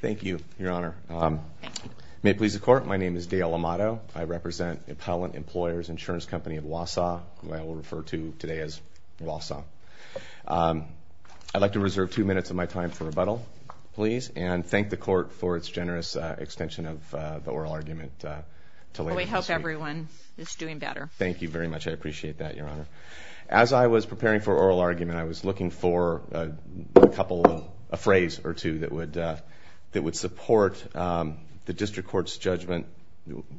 Thank you, Your Honor. May it please the Court, my name is Dale Amato. I represent Appellant Employers Insurance Company of Wausau, who I will refer to today as Wausau. I'd like to reserve two minutes of my time for rebuttal, please, and thank the Court for its generous extension of the oral argument. We hope everyone is doing better. Thank you very much, I appreciate that, Your Honor. As I was preparing for oral argument, I was looking for a couple of, a phrase or two that would, that would support the District Court's judgment,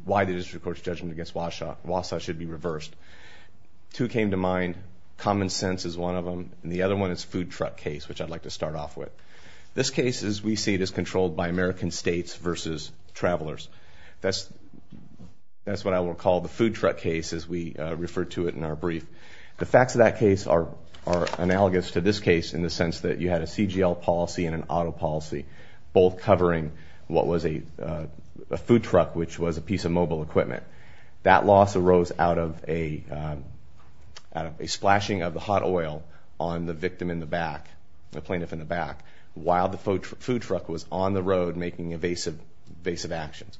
why the District Court's judgment against Wausau should be reversed. Two came to mind, common sense is one of them, and the other one is food truck case, which I'd like to start off with. This case, as we see it, is controlled by American states versus travelers. That's, that's what I will call the food truck case, as we are analogous to this case, in the sense that you had a CGL policy and an auto policy, both covering what was a food truck, which was a piece of mobile equipment. That loss arose out of a splashing of the hot oil on the victim in the back, the plaintiff in the back, while the food truck was on the road making evasive, evasive actions.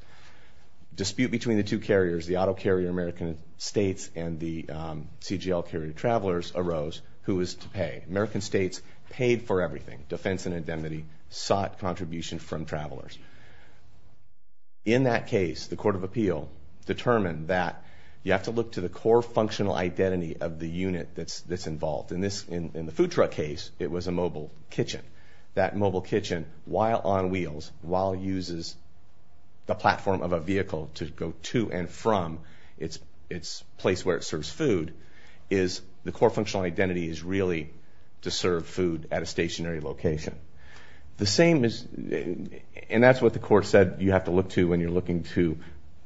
Dispute between the two carriers, the auto carrier travelers, arose, who was to pay. American states paid for everything, defense and indemnity, sought contribution from travelers. In that case, the Court of Appeal determined that you have to look to the core functional identity of the unit that's, that's involved. In this, in the food truck case, it was a mobile kitchen. That mobile kitchen, while on wheels, while uses the platform of a vehicle to go to and from its, its place where it serves food, is the core functional identity is really to serve food at a stationary location. The same is, and that's what the court said, you have to look to when you're looking to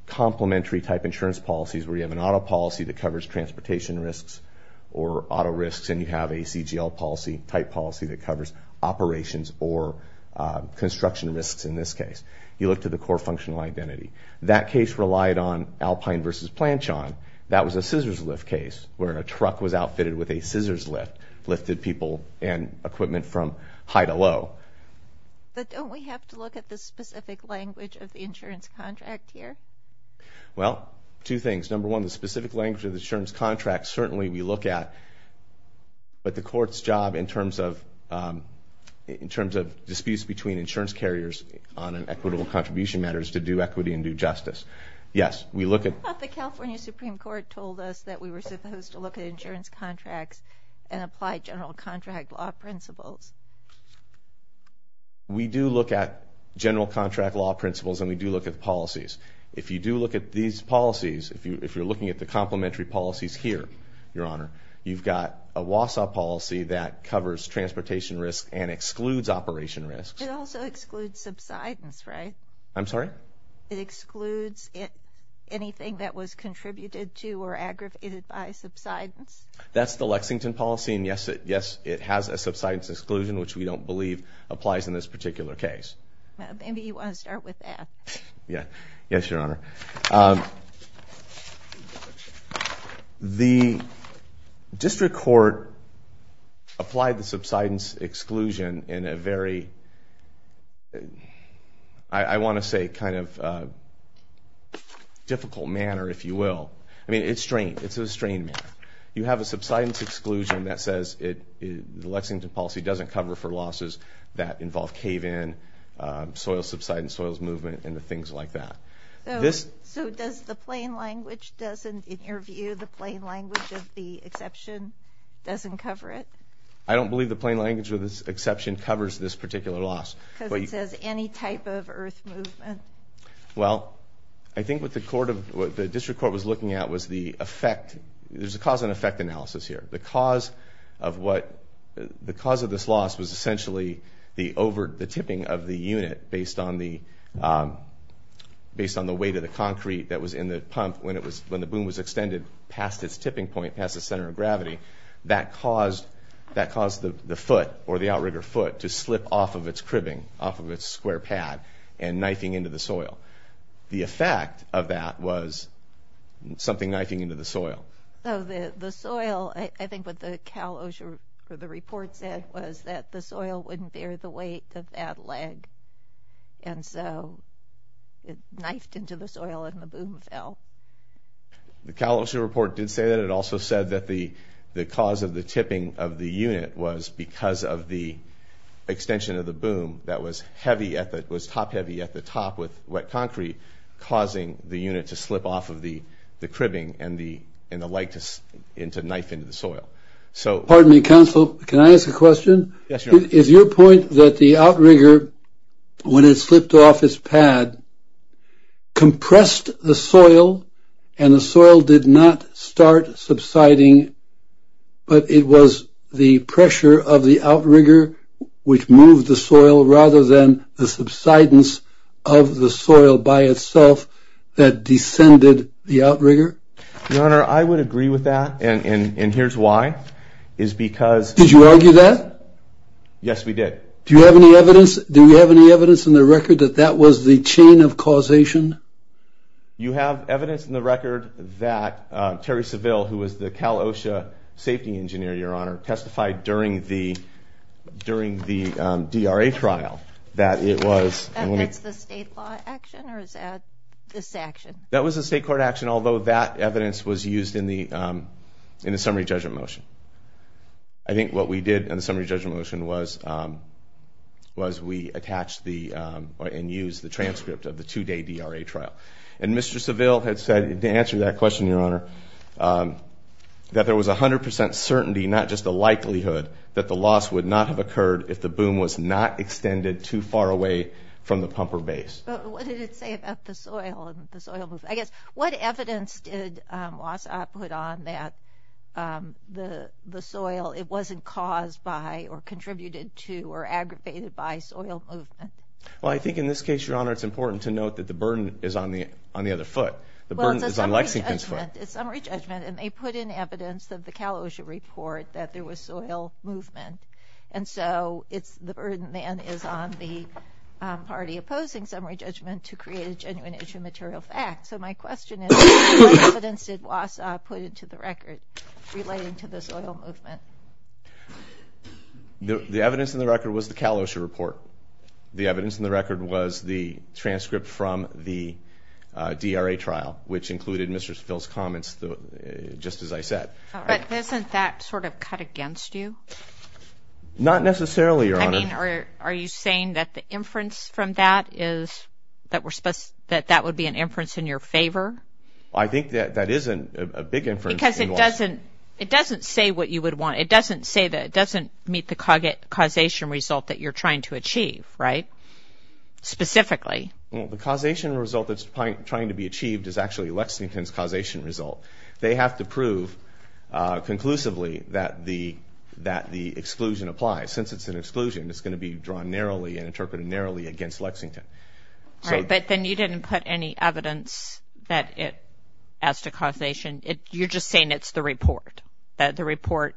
complementary type insurance policies, where you have an auto policy that covers transportation risks or auto risks, and you have a CGL policy, type policy, that covers operations or construction risks. In this case, you look to the core functional identity. That case relied on Alpine versus truck was outfitted with a scissors lift, lifted people and equipment from high to low. But don't we have to look at the specific language of the insurance contract here? Well, two things. Number one, the specific language of the insurance contract certainly we look at, but the court's job in terms of, in terms of disputes between insurance carriers on an equitable contribution matters to do equity and do justice. Yes, we look at... But the California Supreme Court told us that we were supposed to look at insurance contracts and apply general contract law principles. We do look at general contract law principles and we do look at policies. If you do look at these policies, if you're looking at the complementary policies here, Your Honor, you've got a WASA policy that covers transportation risks and excludes operation risks. It also excludes subsidence, right? I'm sorry? It excludes anything that was contributed to or aggravated by subsidence. That's the Lexington policy and yes, it has a subsidence exclusion, which we don't believe applies in this particular case. Maybe you want to start with that. Yeah, yes, Your Honor. The District Court applied the subsidence exclusion in a very, I want to say, kind of difficult manner, if you will. I mean, it's strained. It's a strained matter. You have a subsidence exclusion that says the Lexington policy doesn't cover for losses that involve cave-in, soil subsidence, soils movement, and the things like that. So does the plain language doesn't, in your view, the plain language of the exception doesn't cover it? I don't believe the plain language with this exception covers this particular loss. Because it says any type of earth movement. Well, I think what the District Court was looking at was the effect, there's a cause and effect analysis here. The cause of what, the cause of this loss was essentially the over, the tipping of the unit based on the, based on the weight of the concrete that was in the pump when it was, when the boom was extended past its tipping point, past the center of gravity, that caused, that caused the foot or the outrigger foot to slip off of its square pad and knifing into the soil. The effect of that was something knifing into the soil. So the soil, I think what the Cal OSHA, what the report said was that the soil wouldn't bear the weight of that leg. And so it knifed into the soil and the boom fell. The Cal OSHA report did say that. It also said that the cause of the tipping of the unit was because of the extension of the boom that was heavy at the, was top-heavy at the top with wet concrete, causing the unit to slip off of the the cribbing and the, and the leg to, and to knife into the soil. So, pardon me counsel, can I ask a question? Yes, your honor. Is your point that the outrigger, when it slipped off its pad, compressed the soil and the soil did not start subsiding, but it was the pressure of the outrigger which moved the soil rather than the subsidence of the soil by itself that descended the outrigger? Your honor, I would agree with that and, and, and here's why, is because... Did you argue that? Yes, we did. Do you have any evidence, do you have any evidence in the record that that was the chain of causation? You have evidence in the record that Terry Seville, who was the Cal OSHA safety engineer, your honor, testified during the, during the DRA trial that it was... That's the state law action, or is that this action? That was a state court action, although that evidence was used in the, in the summary judgment motion. I think what we did in the summary judgment motion was, was we attached the, and used the transcript of the two-day DRA trial. And Mr. Seville had said, to answer that question, your honor, that there was a hundred percent certainty, not just a likelihood, that the loss would not have occurred if the boom was not extended too far away from the pumper base. But what did it say about the soil and the soil movement? I guess, what evidence did WASOP put on that the, the soil, it wasn't caused by, or contributed to, or aggravated by soil movement? Well, I think in this case, your honor, it's important to note that the burden is on the, on the other foot. The summary judgment, and they put in evidence of the Cal OSHA report that there was soil movement. And so, it's, the burden then is on the party opposing summary judgment to create a genuine issue of material fact. So my question is, what evidence did WASOP put into the record relating to the soil movement? The evidence in the record was the Cal OSHA report. The evidence in the record was the transcript from the DRA trial, which included Mr. Phil's comments, just as I said. But doesn't that sort of cut against you? Not necessarily, your honor. I mean, are you saying that the inference from that is, that we're supposed, that that would be an inference in your favor? I think that that isn't a big inference. Because it doesn't, it doesn't say what you would want. It doesn't say that, it doesn't meet the causation result that you're trying to achieve, right? Specifically. Well, the causation result that's trying to be achieved is actually Lexington's causation result. They have to prove conclusively that the, that the exclusion applies. Since it's an exclusion, it's going to be drawn narrowly and interpreted narrowly against Lexington. All right, but then you didn't put any evidence that it has to causation. You're just saying it's the report. That the report,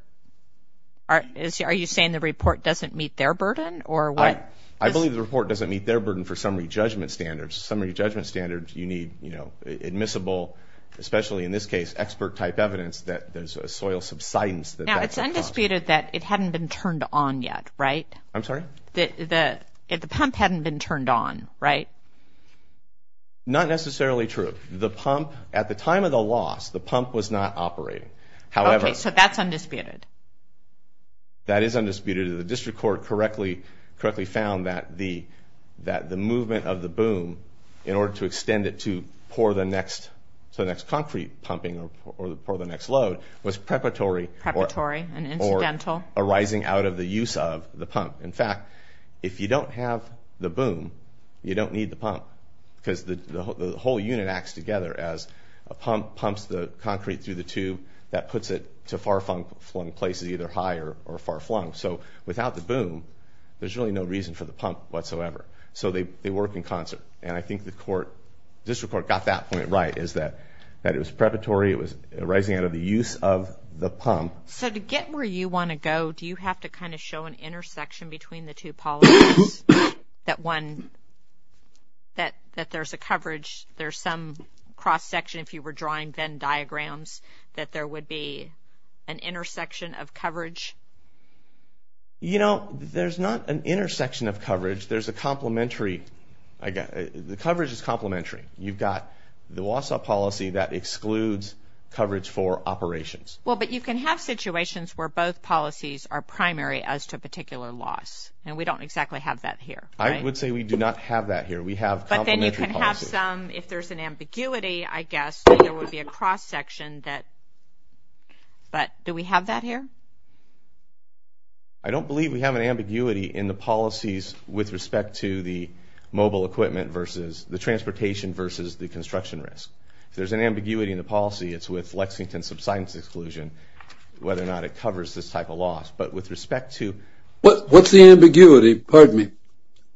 are you saying the report doesn't meet their burden, or what? I believe the report doesn't meet their burden for summary judgment standards. Summary judgment standards, you need, you know, admissible, especially in this case, expert type evidence that there's a soil subsidence. Now, it's undisputed that it hadn't been turned on yet, right? I'm sorry? The pump hadn't been turned on, right? Not necessarily true. The pump, at the time of the loss, the pump was not operating. However... Okay, so that's undisputed. That is undisputed. The District Court correctly, correctly found that the, that the movement of the boom, in order to extend it to pour the next, to the next concrete pumping, or pour the next load, was preparatory. Preparatory and incidental. Or arising out of the use of the pump. In fact, if you don't have the boom, you don't need the pump. Because the whole unit acts together as a pump pumps the concrete through the tube that puts it to far flung places, either high or far flung. So without the boom, there's really no reason for the pump whatsoever. So they work in concert. And I think the court, District Court got that point right, is that it was preparatory, it was arising out of the use of the pump. So to get where you want to go, do you have to kind of show an intersection between the two policies? That one, that, that there's a coverage, there's some cross-section, if you were drawing Venn diagrams, that there would be an intersection of coverage? You know, there's not an intersection of coverage. There's a complementary, I guess, the coverage is complementary. You've got the Wausau policy that excludes coverage for operations. Well, but you can have situations where both policies are primary as to a particular loss. And we don't exactly have that here. I would say we do not have that here. We have complementary policies. But then you can have some, if there's an ambiguity, I guess, there would be a cross-section that, but do we have that here? I don't believe we have an ambiguity in the policies with respect to the mobile equipment versus the transportation versus the construction risk. If there's an ambiguity in the policy, it's with Lexington subsidence exclusion, whether or not it covers this type of loss. But with respect to... But what's the ambiguity, pardon me,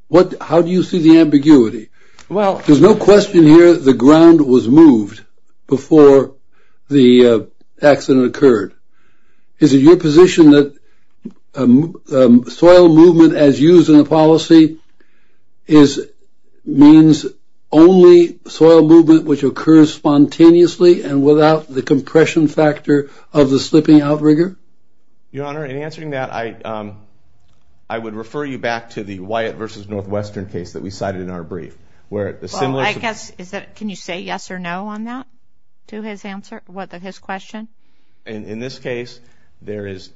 what, how do you see the ambiguity? Well, there's no question here the ground was moved before the accident occurred. Is it your position that soil movement as used in the policy is, means only soil movement which occurs spontaneously and without the compression factor of the slipping outrigger? Your Honor, in answering that, I would refer you back to the Wyatt versus Northwestern case that we cited in our brief, where the... I guess, is that, can you say yes or no on that to his answer, what, his question? In this case, there is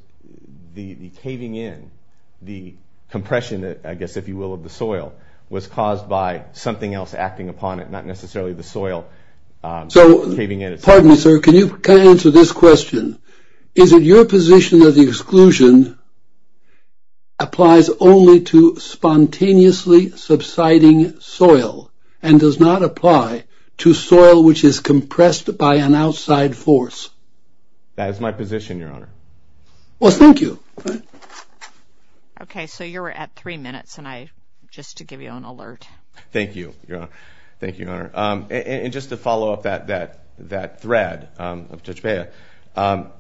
the caving in, the compression that, I guess if you will, of the soil was caused by something else acting upon it, not necessarily the soil. So, pardon me, sir, can you answer this question? Is it your position that the exclusion applies only to spontaneously subsiding soil and does not apply to soil which is compressed by an outside force? That is my position, Your Honor. Well, thank you. Okay, so you're at three minutes and I, just to give you an alert. Thank you, Your Honor. Thank you, Your Honor. And just to follow up that, that, that thread of Techepea,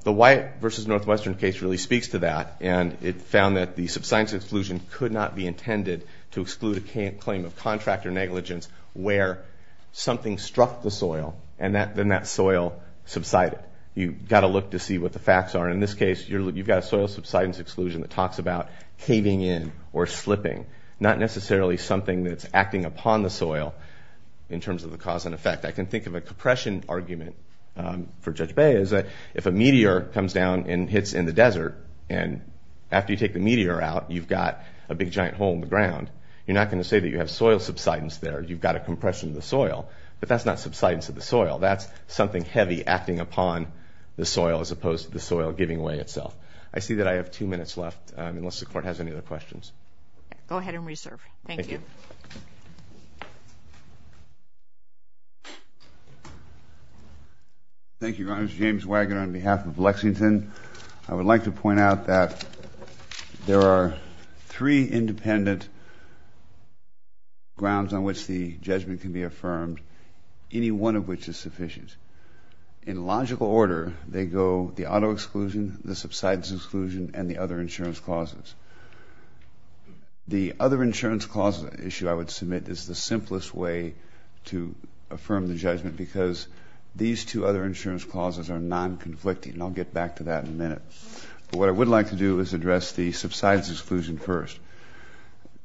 the Wyatt versus Northwestern case really speaks to that and it found that the subsidence exclusion could not be intended to exclude a claim of contractor negligence where something struck the soil and that, then that soil subsided. You've got to look to see what the facts are. In this case, you've got a soil subsidence exclusion that talks about caving in or slipping, not necessarily something that's acting upon the soil in terms of the cause and effect. I can think of a compression argument for Judge Bay is that if a meteor comes down and hits in the desert and after you take the meteor out, you've got a big giant hole in the ground, you're not going to say that you have soil subsidence there. You've got a compression of the soil, but that's not subsidence of the soil. That's something heavy acting upon the soil as opposed to the soil giving way itself. I see that I have two minutes left unless the Court has any other questions. Go ahead and reserve. Thank you. Thank you, Your Honor. James Wagoner on behalf of Lexington. I would like to point out that there are three independent grounds on which the judgment can be affirmed, any one of which is sufficient. In logical order, they go the auto exclusion, the subsidence exclusion, and the other insurance clauses. The other insurance clause issue I would submit is the simplest way to affirm the judgment because these two other insurance clauses are non-conflicting. I'll get back to that in a minute. What I would like to do is address the subsidence exclusion first.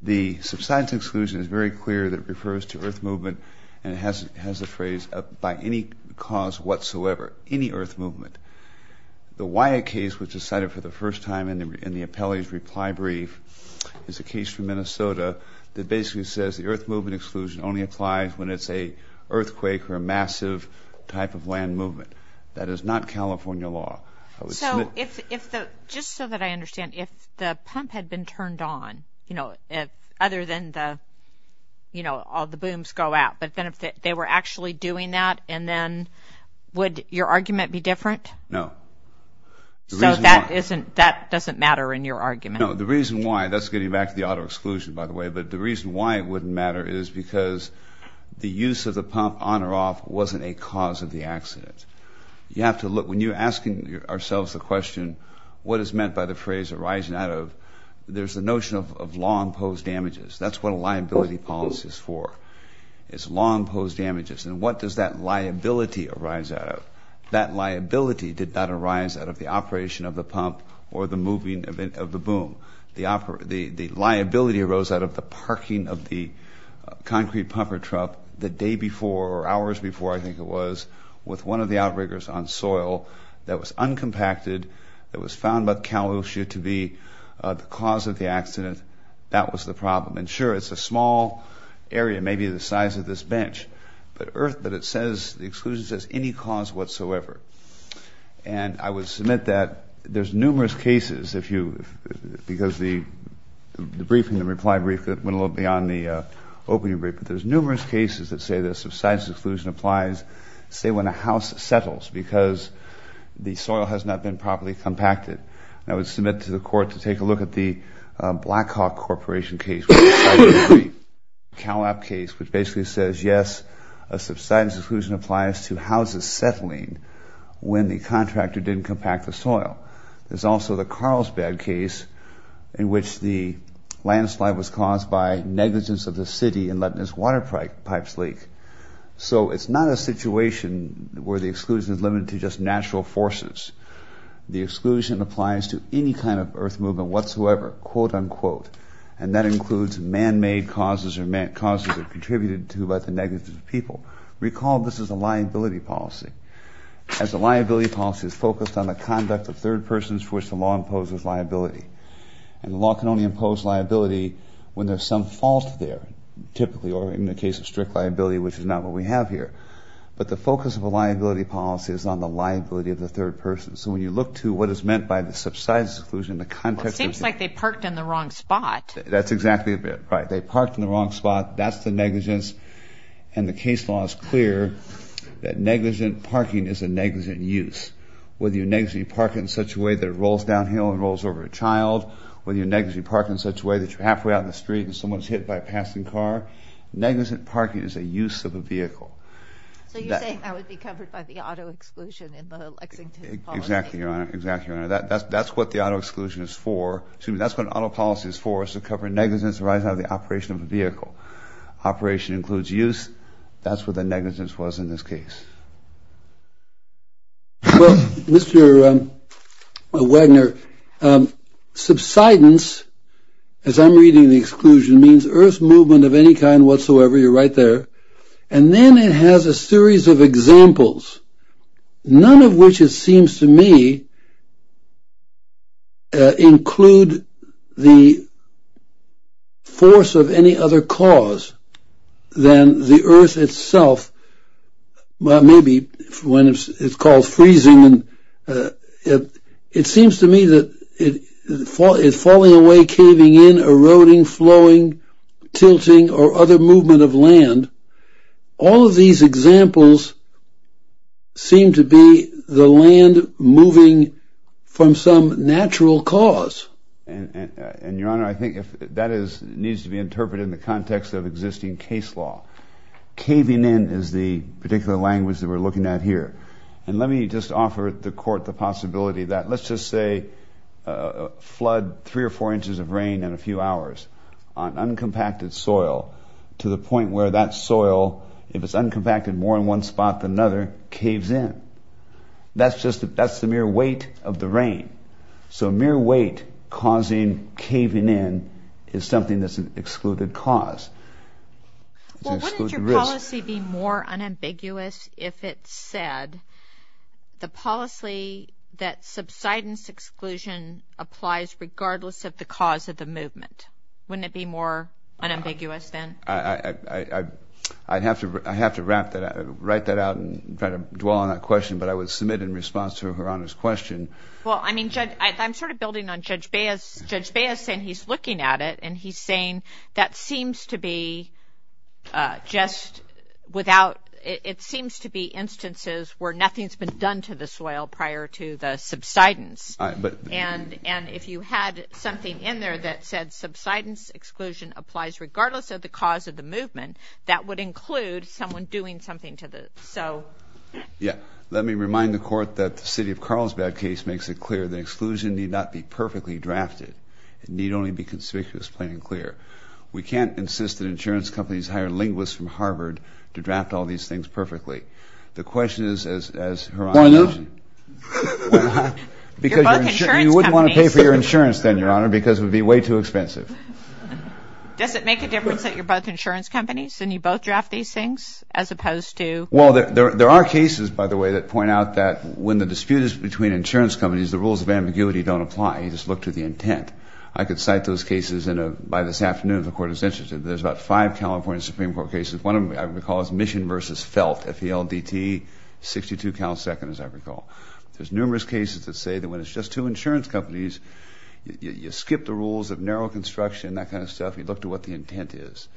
The subsidence exclusion is very clear that refers to earth movement and it has a phrase, by any cause whatsoever, any earth movement. The Wyatt case was decided for the first time in the appellee's reply brief. It's a case from Minnesota that basically says the earth movement exclusion only applies when it's a earthquake or a massive type of land movement. That is not California law. So if the, just so that I understand, if the pump had been turned on, you know, other than the, you know, all the booms go out, but then if they were actually doing that and then would your argument be No, the reason why, that's getting back to the auto exclusion, by the way, but the reason why it wouldn't matter is because the use of the pump on or off wasn't a cause of the accident. You have to look, when you're asking ourselves the question, what is meant by the phrase arising out of, there's the notion of long-posed damages. That's what a liability policy is for. It's long-posed damages. And what does that liability arise out of? That liability did not arise out of the operation of the pump or the moving of the boom. The liability arose out of the parking of the concrete pumper truck the day before or hours before, I think it was, with one of the outriggers on soil that was uncompacted, that was found by the CalOcean to be the cause of the accident. That was the problem. And sure, it's a small area, maybe the size of this bench, but earth, but it says, the exclusion says, any cause whatsoever. And I would submit that there's numerous cases, if you, because the briefing, the reply brief that went a little beyond the opening brief, but there's numerous cases that say the subsidized exclusion applies, say, when a house settles because the soil has not been properly compacted. I would submit to the court to take a look at the Blackhawk Corporation case, which basically says, yes, a subsidized exclusion applies to houses settling when the contractor didn't compact the soil. There's also the Carlsbad case in which the landslide was caused by negligence of the city in letting its water pipes leak. So it's not a situation where the exclusion is limited to just natural forces. The exclusion applies to any kind of earth movement whatsoever, quote-unquote, and that includes man-made causes or causes that contributed to the negligence of the city. Now, recall, this is a liability policy, as a liability policy is focused on the conduct of third persons for which the law imposes liability. And the law can only impose liability when there's some fault there, typically, or in the case of strict liability, which is not what we have here. But the focus of a liability policy is on the liability of the third person. So when you look to what is meant by the subsidized exclusion, the context of the- It seems like they parked in the wrong spot. That's exactly right. They parked in the wrong spot, that's the negligence, and the case law is clear that negligent parking is a negligent use. Whether you negligently park in such a way that it rolls downhill and rolls over a child, whether you negligently park in such a way that you're halfway out in the street and someone's hit by a passing car, negligent parking is a use of a vehicle. So you're saying that would be covered by the auto exclusion in the Lexington policy? Exactly, Your Honor. Exactly, Your Honor. That's what the auto exclusion is for, excuse me, that's what an auto policy is for, is to cover negligence arising out of the operation of a vehicle. Operation includes use, that's what the negligence was in this case. Well, Mr. Wagner, subsidence, as I'm reading the exclusion, means earth movement of any kind whatsoever, you're right there, and then it has a series of examples, none of which it seems to me include the force of any other cause than the earth itself, maybe when it's called freezing, it seems to me that it's falling away, caving in, eroding, flowing, tilting, or other movement of land, all of these examples seem to be the land moving from some natural cause. And Your Honor, I think that needs to be interpreted in the context of existing case law. Caving in is the particular language that we're looking at here, and let me just offer the court the possibility that, let's just say a flood, three or four inches of rain in a few hours, on uncompacted soil, to the point where that soil, if it's uncompacted more in one spot than another, caves in. That's the mere weight of the rain. So mere weight causing caving in is something that's an excluded cause. Well, wouldn't your policy be more unambiguous if it said, the policy that subsidence exclusion applies regardless of the cause of the movement? Wouldn't it be more unambiguous then? I'd have to write that out and try to dwell on that question, but I would submit in response to Your Honor's question. Well, I mean, I'm sort of building on Judge Baez. Judge Baez said he's looking at it, and he's saying that seems to be just without, it seems to be instances where nothing's been done to the soil prior to the subsidence. And if you had something in there that said subsidence exclusion applies regardless of the cause of the movement, that would include someone doing something to the, so. Yeah. Let me remind the court that the city of Carlsbad case makes it clear that exclusion need not be perfectly drafted. It need only be conspicuous, plain and clear. We can't companies hire linguists from Harvard to draft all these things perfectly. The question is, as Her Honor mentioned. Why you? Because you wouldn't want to pay for your insurance then, Your Honor, because it would be way too expensive. Does it make a difference that you're both insurance companies and you both draft these things as opposed to? Well, there are cases, by the way, that point out that when the dispute is between insurance companies, the rules of ambiguity don't apply. You just look to the intent. I could cite those cases by this afternoon if the court is interested. There's about five California Supreme Court cases. One of them, I recall, is Mission versus Felt, F-E-L-D-T, 62 counts second, as I recall. There's numerous cases that say that when it's just two insurance companies, you skip the rules of narrow construction, that kind of stuff. You look to what the intent is.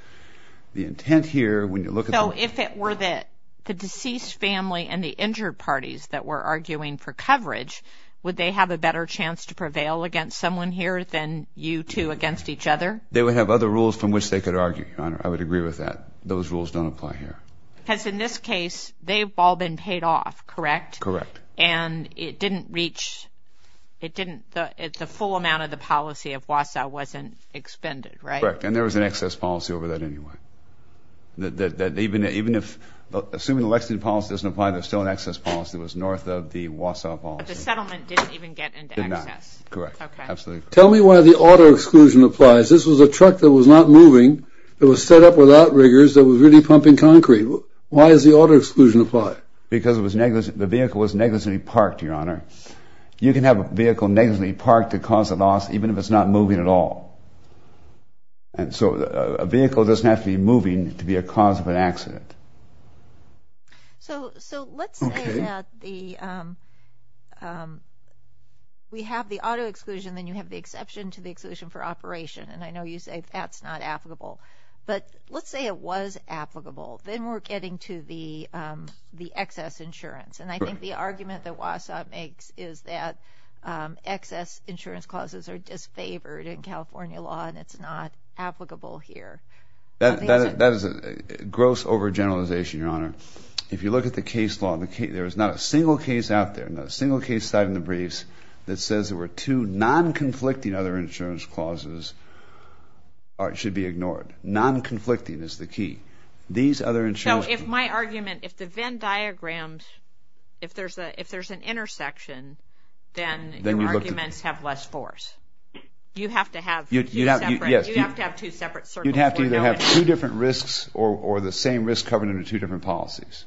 The intent here, when you look at the- So if it were the deceased family and the injured parties that were arguing for coverage, would they have a better chance to prevail against someone here than you two against each other? They would have other rules from which they could argue, Your Honor. I would agree with that. Those rules don't apply here. Because in this case, they've all been paid off, correct? Correct. And it didn't reach- it didn't- the full amount of the policy of Wausau wasn't expended, right? Correct. And there was an excess policy over that anyway. That even if- assuming the Lexington policy doesn't apply, there's still an excess policy that was north of the Wausau policy. But the settlement didn't even get into excess. Did not. Correct. Okay. Absolutely correct. Tell me why the auto exclusion applies. This was a truck that was not moving, that was set up without rigors, that was really pumping concrete. Why does the auto exclusion apply? Because it was negligent- the vehicle was negligently parked, Your Honor. You can have a vehicle negligently parked to cause a loss even if it's not moving at all. And so a vehicle doesn't have to be moving to be a cause of an accident. So let's say that the- we have the auto exclusion, then you have the exception to the exclusion for operation. And I know you say that's not applicable. But let's say it was applicable. Then we're getting to the excess insurance. And I think the argument that Wausau makes is that excess insurance clauses are disfavored in California law, and it's not applicable here. That is a gross over-generalization. Your Honor, if you look at the case law, there is not a single case out there, not a single case cited in the briefs, that says there were two non-conflicting other insurance clauses should be ignored. Non-conflicting is the key. These other insurance- So if my argument, if the Venn diagram, if there's an intersection, then your arguments have less force. You have to have two separate circles. You'd have to either have two different risks or the same risk covered under two different policies,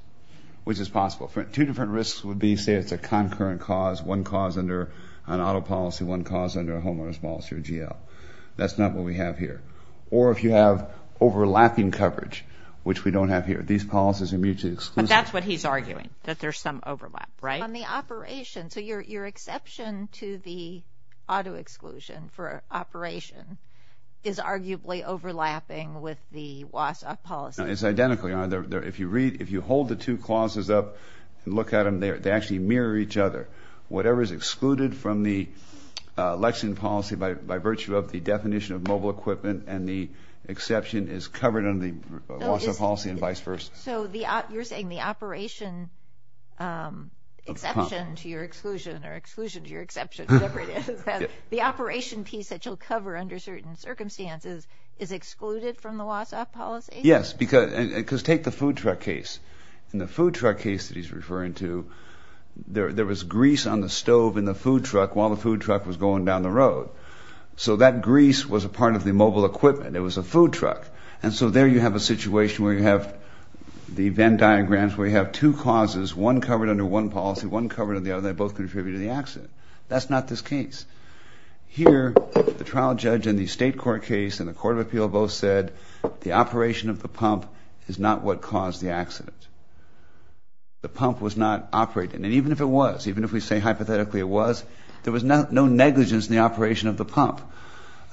which is possible. Two different risks would be, say it's a concurrent cause, one cause under an auto policy, one cause under a homeowner's policy or GL. That's not what we have here. Or if you have overlapping coverage, which we don't have here. These policies are mutually exclusive. But that's what he's arguing, that there's some overlap, right? On the operation. So your exception to the overlapping with the WSSOC policy. It's identical, Your Honor. If you hold the two clauses up and look at them, they actually mirror each other. Whatever is excluded from the Lexington policy by virtue of the definition of mobile equipment and the exception is covered under the WSSOC policy and vice versa. So you're saying the operation exception to your exclusion or exclusion to your exception, whatever it is, is that the operation piece that you'll cover under certain circumstances is excluded from the WSSOC policy? Yes, because take the food truck case. In the food truck case that he's referring to, there was grease on the stove in the food truck while the food truck was going down the road. So that grease was a part of the mobile equipment. It was a food truck. And so there you have a situation where you have the Venn diagrams, where you have two causes, one covered under one policy, one covered under the other, and they both contribute to the accident. That's not this case. Here, the trial judge in the state court case and the court of appeal both said the operation of the pump is not what caused the accident. The pump was not operating. And even if it was, even if we say hypothetically it was, there was no negligence in the operation of the pump.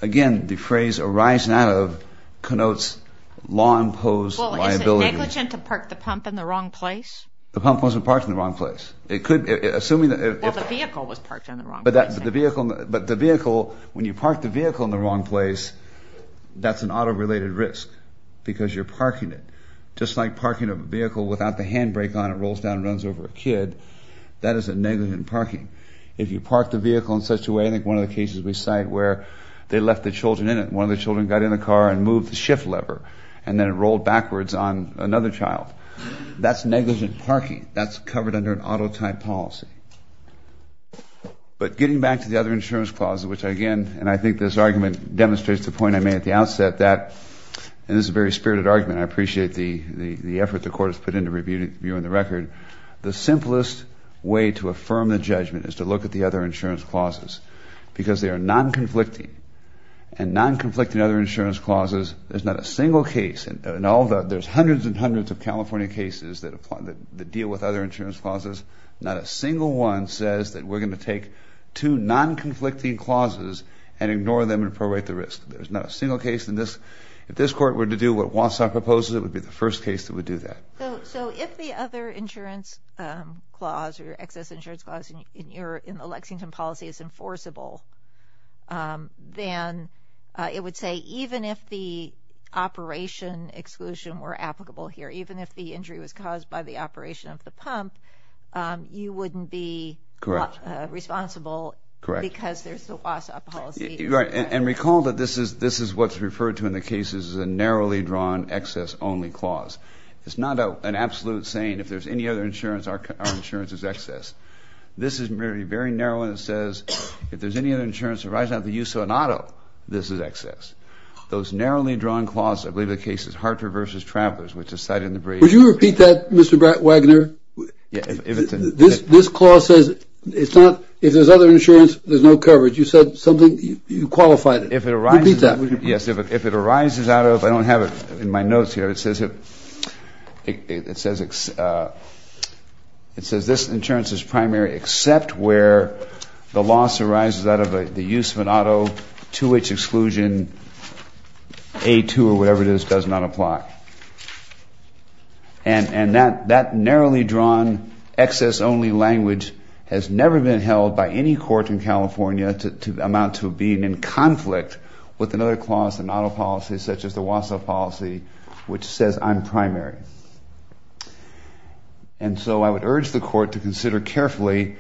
Again, the phrase arising out of connotes law-imposed liability. Well, is it negligent to park the pump in the wrong place? The pump wasn't parked in the wrong place. It could, assuming that... Well, the vehicle was parked in the wrong place. But the vehicle, when you park the vehicle in the wrong place, that's an auto-related risk, because you're parking it. Just like parking a vehicle without the handbrake on, it rolls down and runs over a kid. That is a negligent parking. If you park the vehicle in such a way, I think one of the cases we cite where they left the children in it. One of the children got in the car and moved the shift lever, and then it rolled backwards on another child. That's negligent parking. That's covered under an auto-type policy. But getting back to the other insurance clauses, which again, and I think this argument demonstrates the point I made at the outset that, and this is a very spirited argument, I appreciate the effort the Court has put into reviewing the record. The simplest way to affirm the judgment is to look at the other insurance clauses, because they are non-conflicting. And non-conflicting other insurance clauses, there's not a single case, and there's hundreds and hundreds of California cases that deal with other insurance clauses, not a single one says that we're going to take two non-conflicting clauses and ignore them and prorate the risk. There's not a single case. If this Court were to do what Wausau proposes, it would be the first case that would do that. So if the other insurance clause or excess insurance clause in the Lexington policy is enforceable, then it would say even if the operation exclusion were applicable here, even if the injury was caused by the operation of the pump, you wouldn't be responsible because there's the Wausau policy. Right. And recall that this is what's referred to in the cases as a narrowly drawn excess only clause. It's not an absolute saying, if there's any other insurance, our insurance is excess. This is very narrow and it says, if there's any other insurance arising out of the use of an auto, this is excess. Those narrowly drawn clauses, I believe the case is Hartford v. Travelers, which is cited in the brief. Would you repeat that, Mr. Wagner? This clause says, if there's other insurance, there's no coverage. You said something, you qualified it. Repeat that. Yes, if it arises out of, I don't have it in my notes here, it says this insurance is primary except where the loss arises out of the use of an auto to which exclusion A2 or whatever it is does not apply. And that narrowly drawn excess only language has never been held by any court in California to amount to being in conflict with another clause in auto policy such as the Wausau policy, which says I'm primary. And so I would urge the court to consider carefully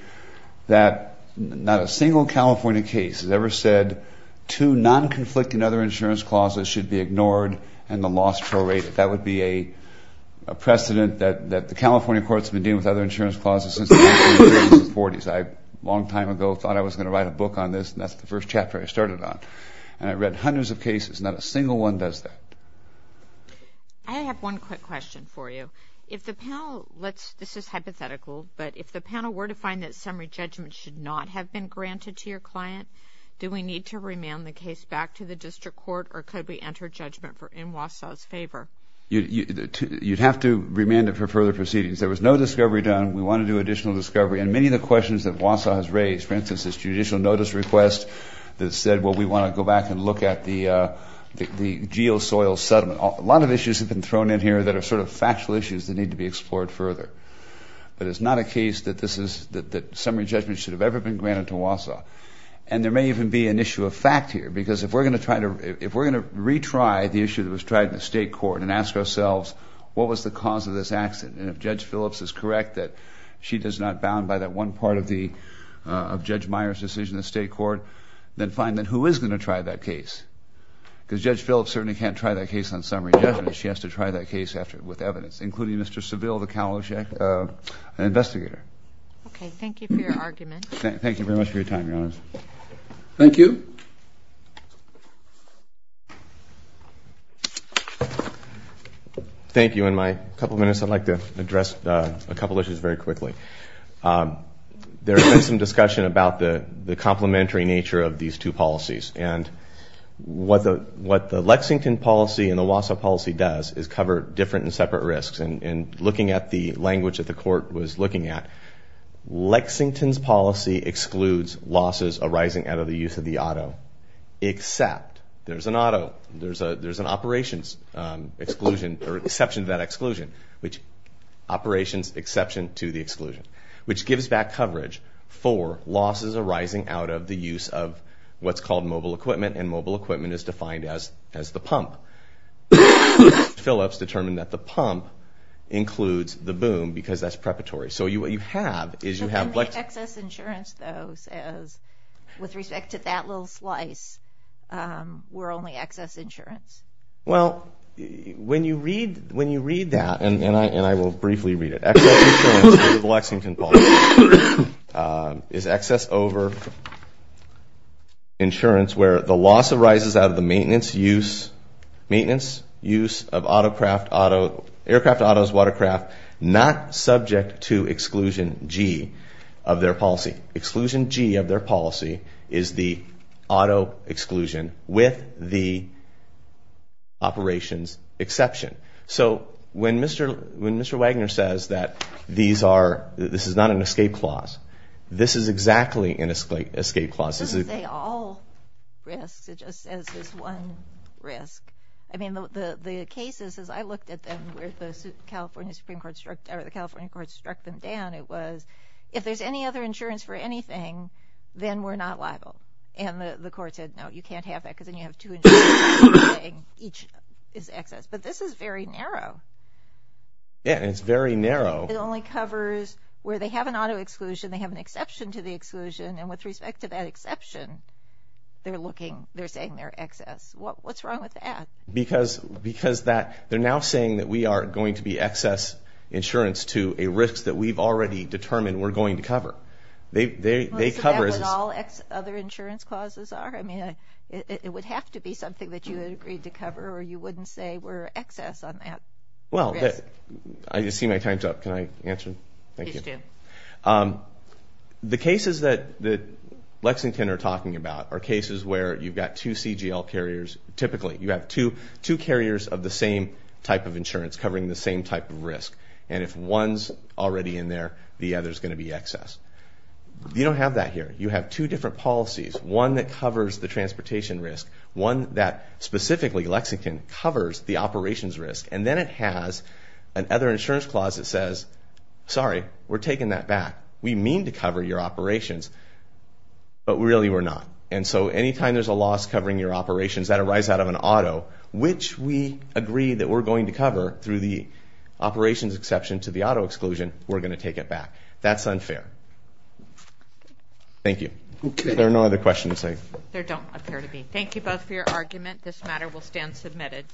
that not a single California case has ever said two non-conflicting other insurance clauses should be ignored and the loss prorated. That would be a precedent that the California courts have been dealing with other insurance clauses since the 1940s. I, a long time ago, thought I was going to write a book on this and that's the first chapter I started on. And I read hundreds of cases, not a single one does that. I have one quick question for you. If the panel, let's, this is hypothetical, but if the panel were to find that summary judgment should not have been granted to your client, do we need to remand the case back to the district court or could we enter judgment in Wausau's favor? You'd have to remand it for further proceedings. There was no discovery done. We want to do additional discovery and many of the questions that Wausau has raised, for instance, this judicial notice request that we want to go back and look at the geo soil settlement. A lot of issues have been thrown in here that are sort of factual issues that need to be explored further. But it's not a case that summary judgment should have ever been granted to Wausau. And there may even be an issue of fact here because if we're going to try to, if we're going to retry the issue that was tried in the state court and ask ourselves, what was the cause of this accident? And if Judge Phillips is correct that she does not bound by that one part of the, of Judge Meyer's decision in the state court, then fine. Then who is going to try that case? Because Judge Phillips certainly can't try that case on summary judgment. She has to try that case after with evidence, including Mr. Seville, the Kaloshek investigator. Okay. Thank you for your argument. Thank you very much for your time. Thank you. Thank you. In my couple of minutes, I'd like to address a couple of issues very quickly. There has been some discussion about the complementary nature of these two policies. And what the Lexington policy and the Wausau policy does is cover different and separate risks. And looking at the language that the court was looking at, Lexington's policy excludes losses arising out of the use of the auto, except there's an auto, there's an operations exclusion, or exception to that exclusion, which operations exception to the exclusion, which gives back coverage for losses arising out of the use of what's called mobile equipment. And mobile equipment is defined as, as the pump. Phillips determined that the pump includes the boom because that's preparatory. So you, what you have is you have- So then the excess insurance though says, with respect to that little slice, we're only excess insurance. Well, when you read, when you read that, and I, and I will briefly read it, excess insurance through the Lexington policy is excess over insurance where the loss arises out of the maintenance use, maintenance use of auto, aircraft autos, watercraft, not subject to exclusion G of their policy. Exclusion G of their policy is the auto exclusion with the operations exception. So when Mr. Wagner says that these are, this is not an escape clause, this is exactly an escape clause. It doesn't say all risks, it just says there's one risk. I mean, the cases, as I looked at them, where the California Supreme Court struck, or the California court struck them down, it was, if there's any other insurance for anything, then we're not liable. And the court said, no, you can't have that because then you have two each is excess. But this is very narrow. Yeah, and it's very narrow. It only covers where they have an auto exclusion, they have an exception to the exclusion, and with respect to that exception, they're looking, they're saying they're excess. What's wrong with that? Because, because that, they're now saying that we are going to be excess insurance to a risk that we've already determined we're going to cover. They, they, they cover. Is that what all other insurance clauses are? I mean, it would have to be something that you had agreed to cover, or you wouldn't say we're excess on that? Well, I just see my time's up. Can I answer? Thank you. Please do. The cases that, that Lexington are talking about are cases where you've got two CGL carriers. Typically, you have two, two carriers of the same type of insurance covering the same type of risk. And if one's already in there, the other's going to be excess. You don't have that one that covers the transportation risk, one that specifically, Lexington, covers the operations risk, and then it has another insurance clause that says, sorry, we're taking that back. We mean to cover your operations, but really we're not. And so anytime there's a loss covering your operations, that arises out of an auto, which we agree that we're going to cover through the operations exception to the auto exclusion, we're going to take it back. That's unfair. Okay. Thank you. Okay. If there are no other questions, I... There don't appear to be. Thank you both for your argument. This matter will stand submitted.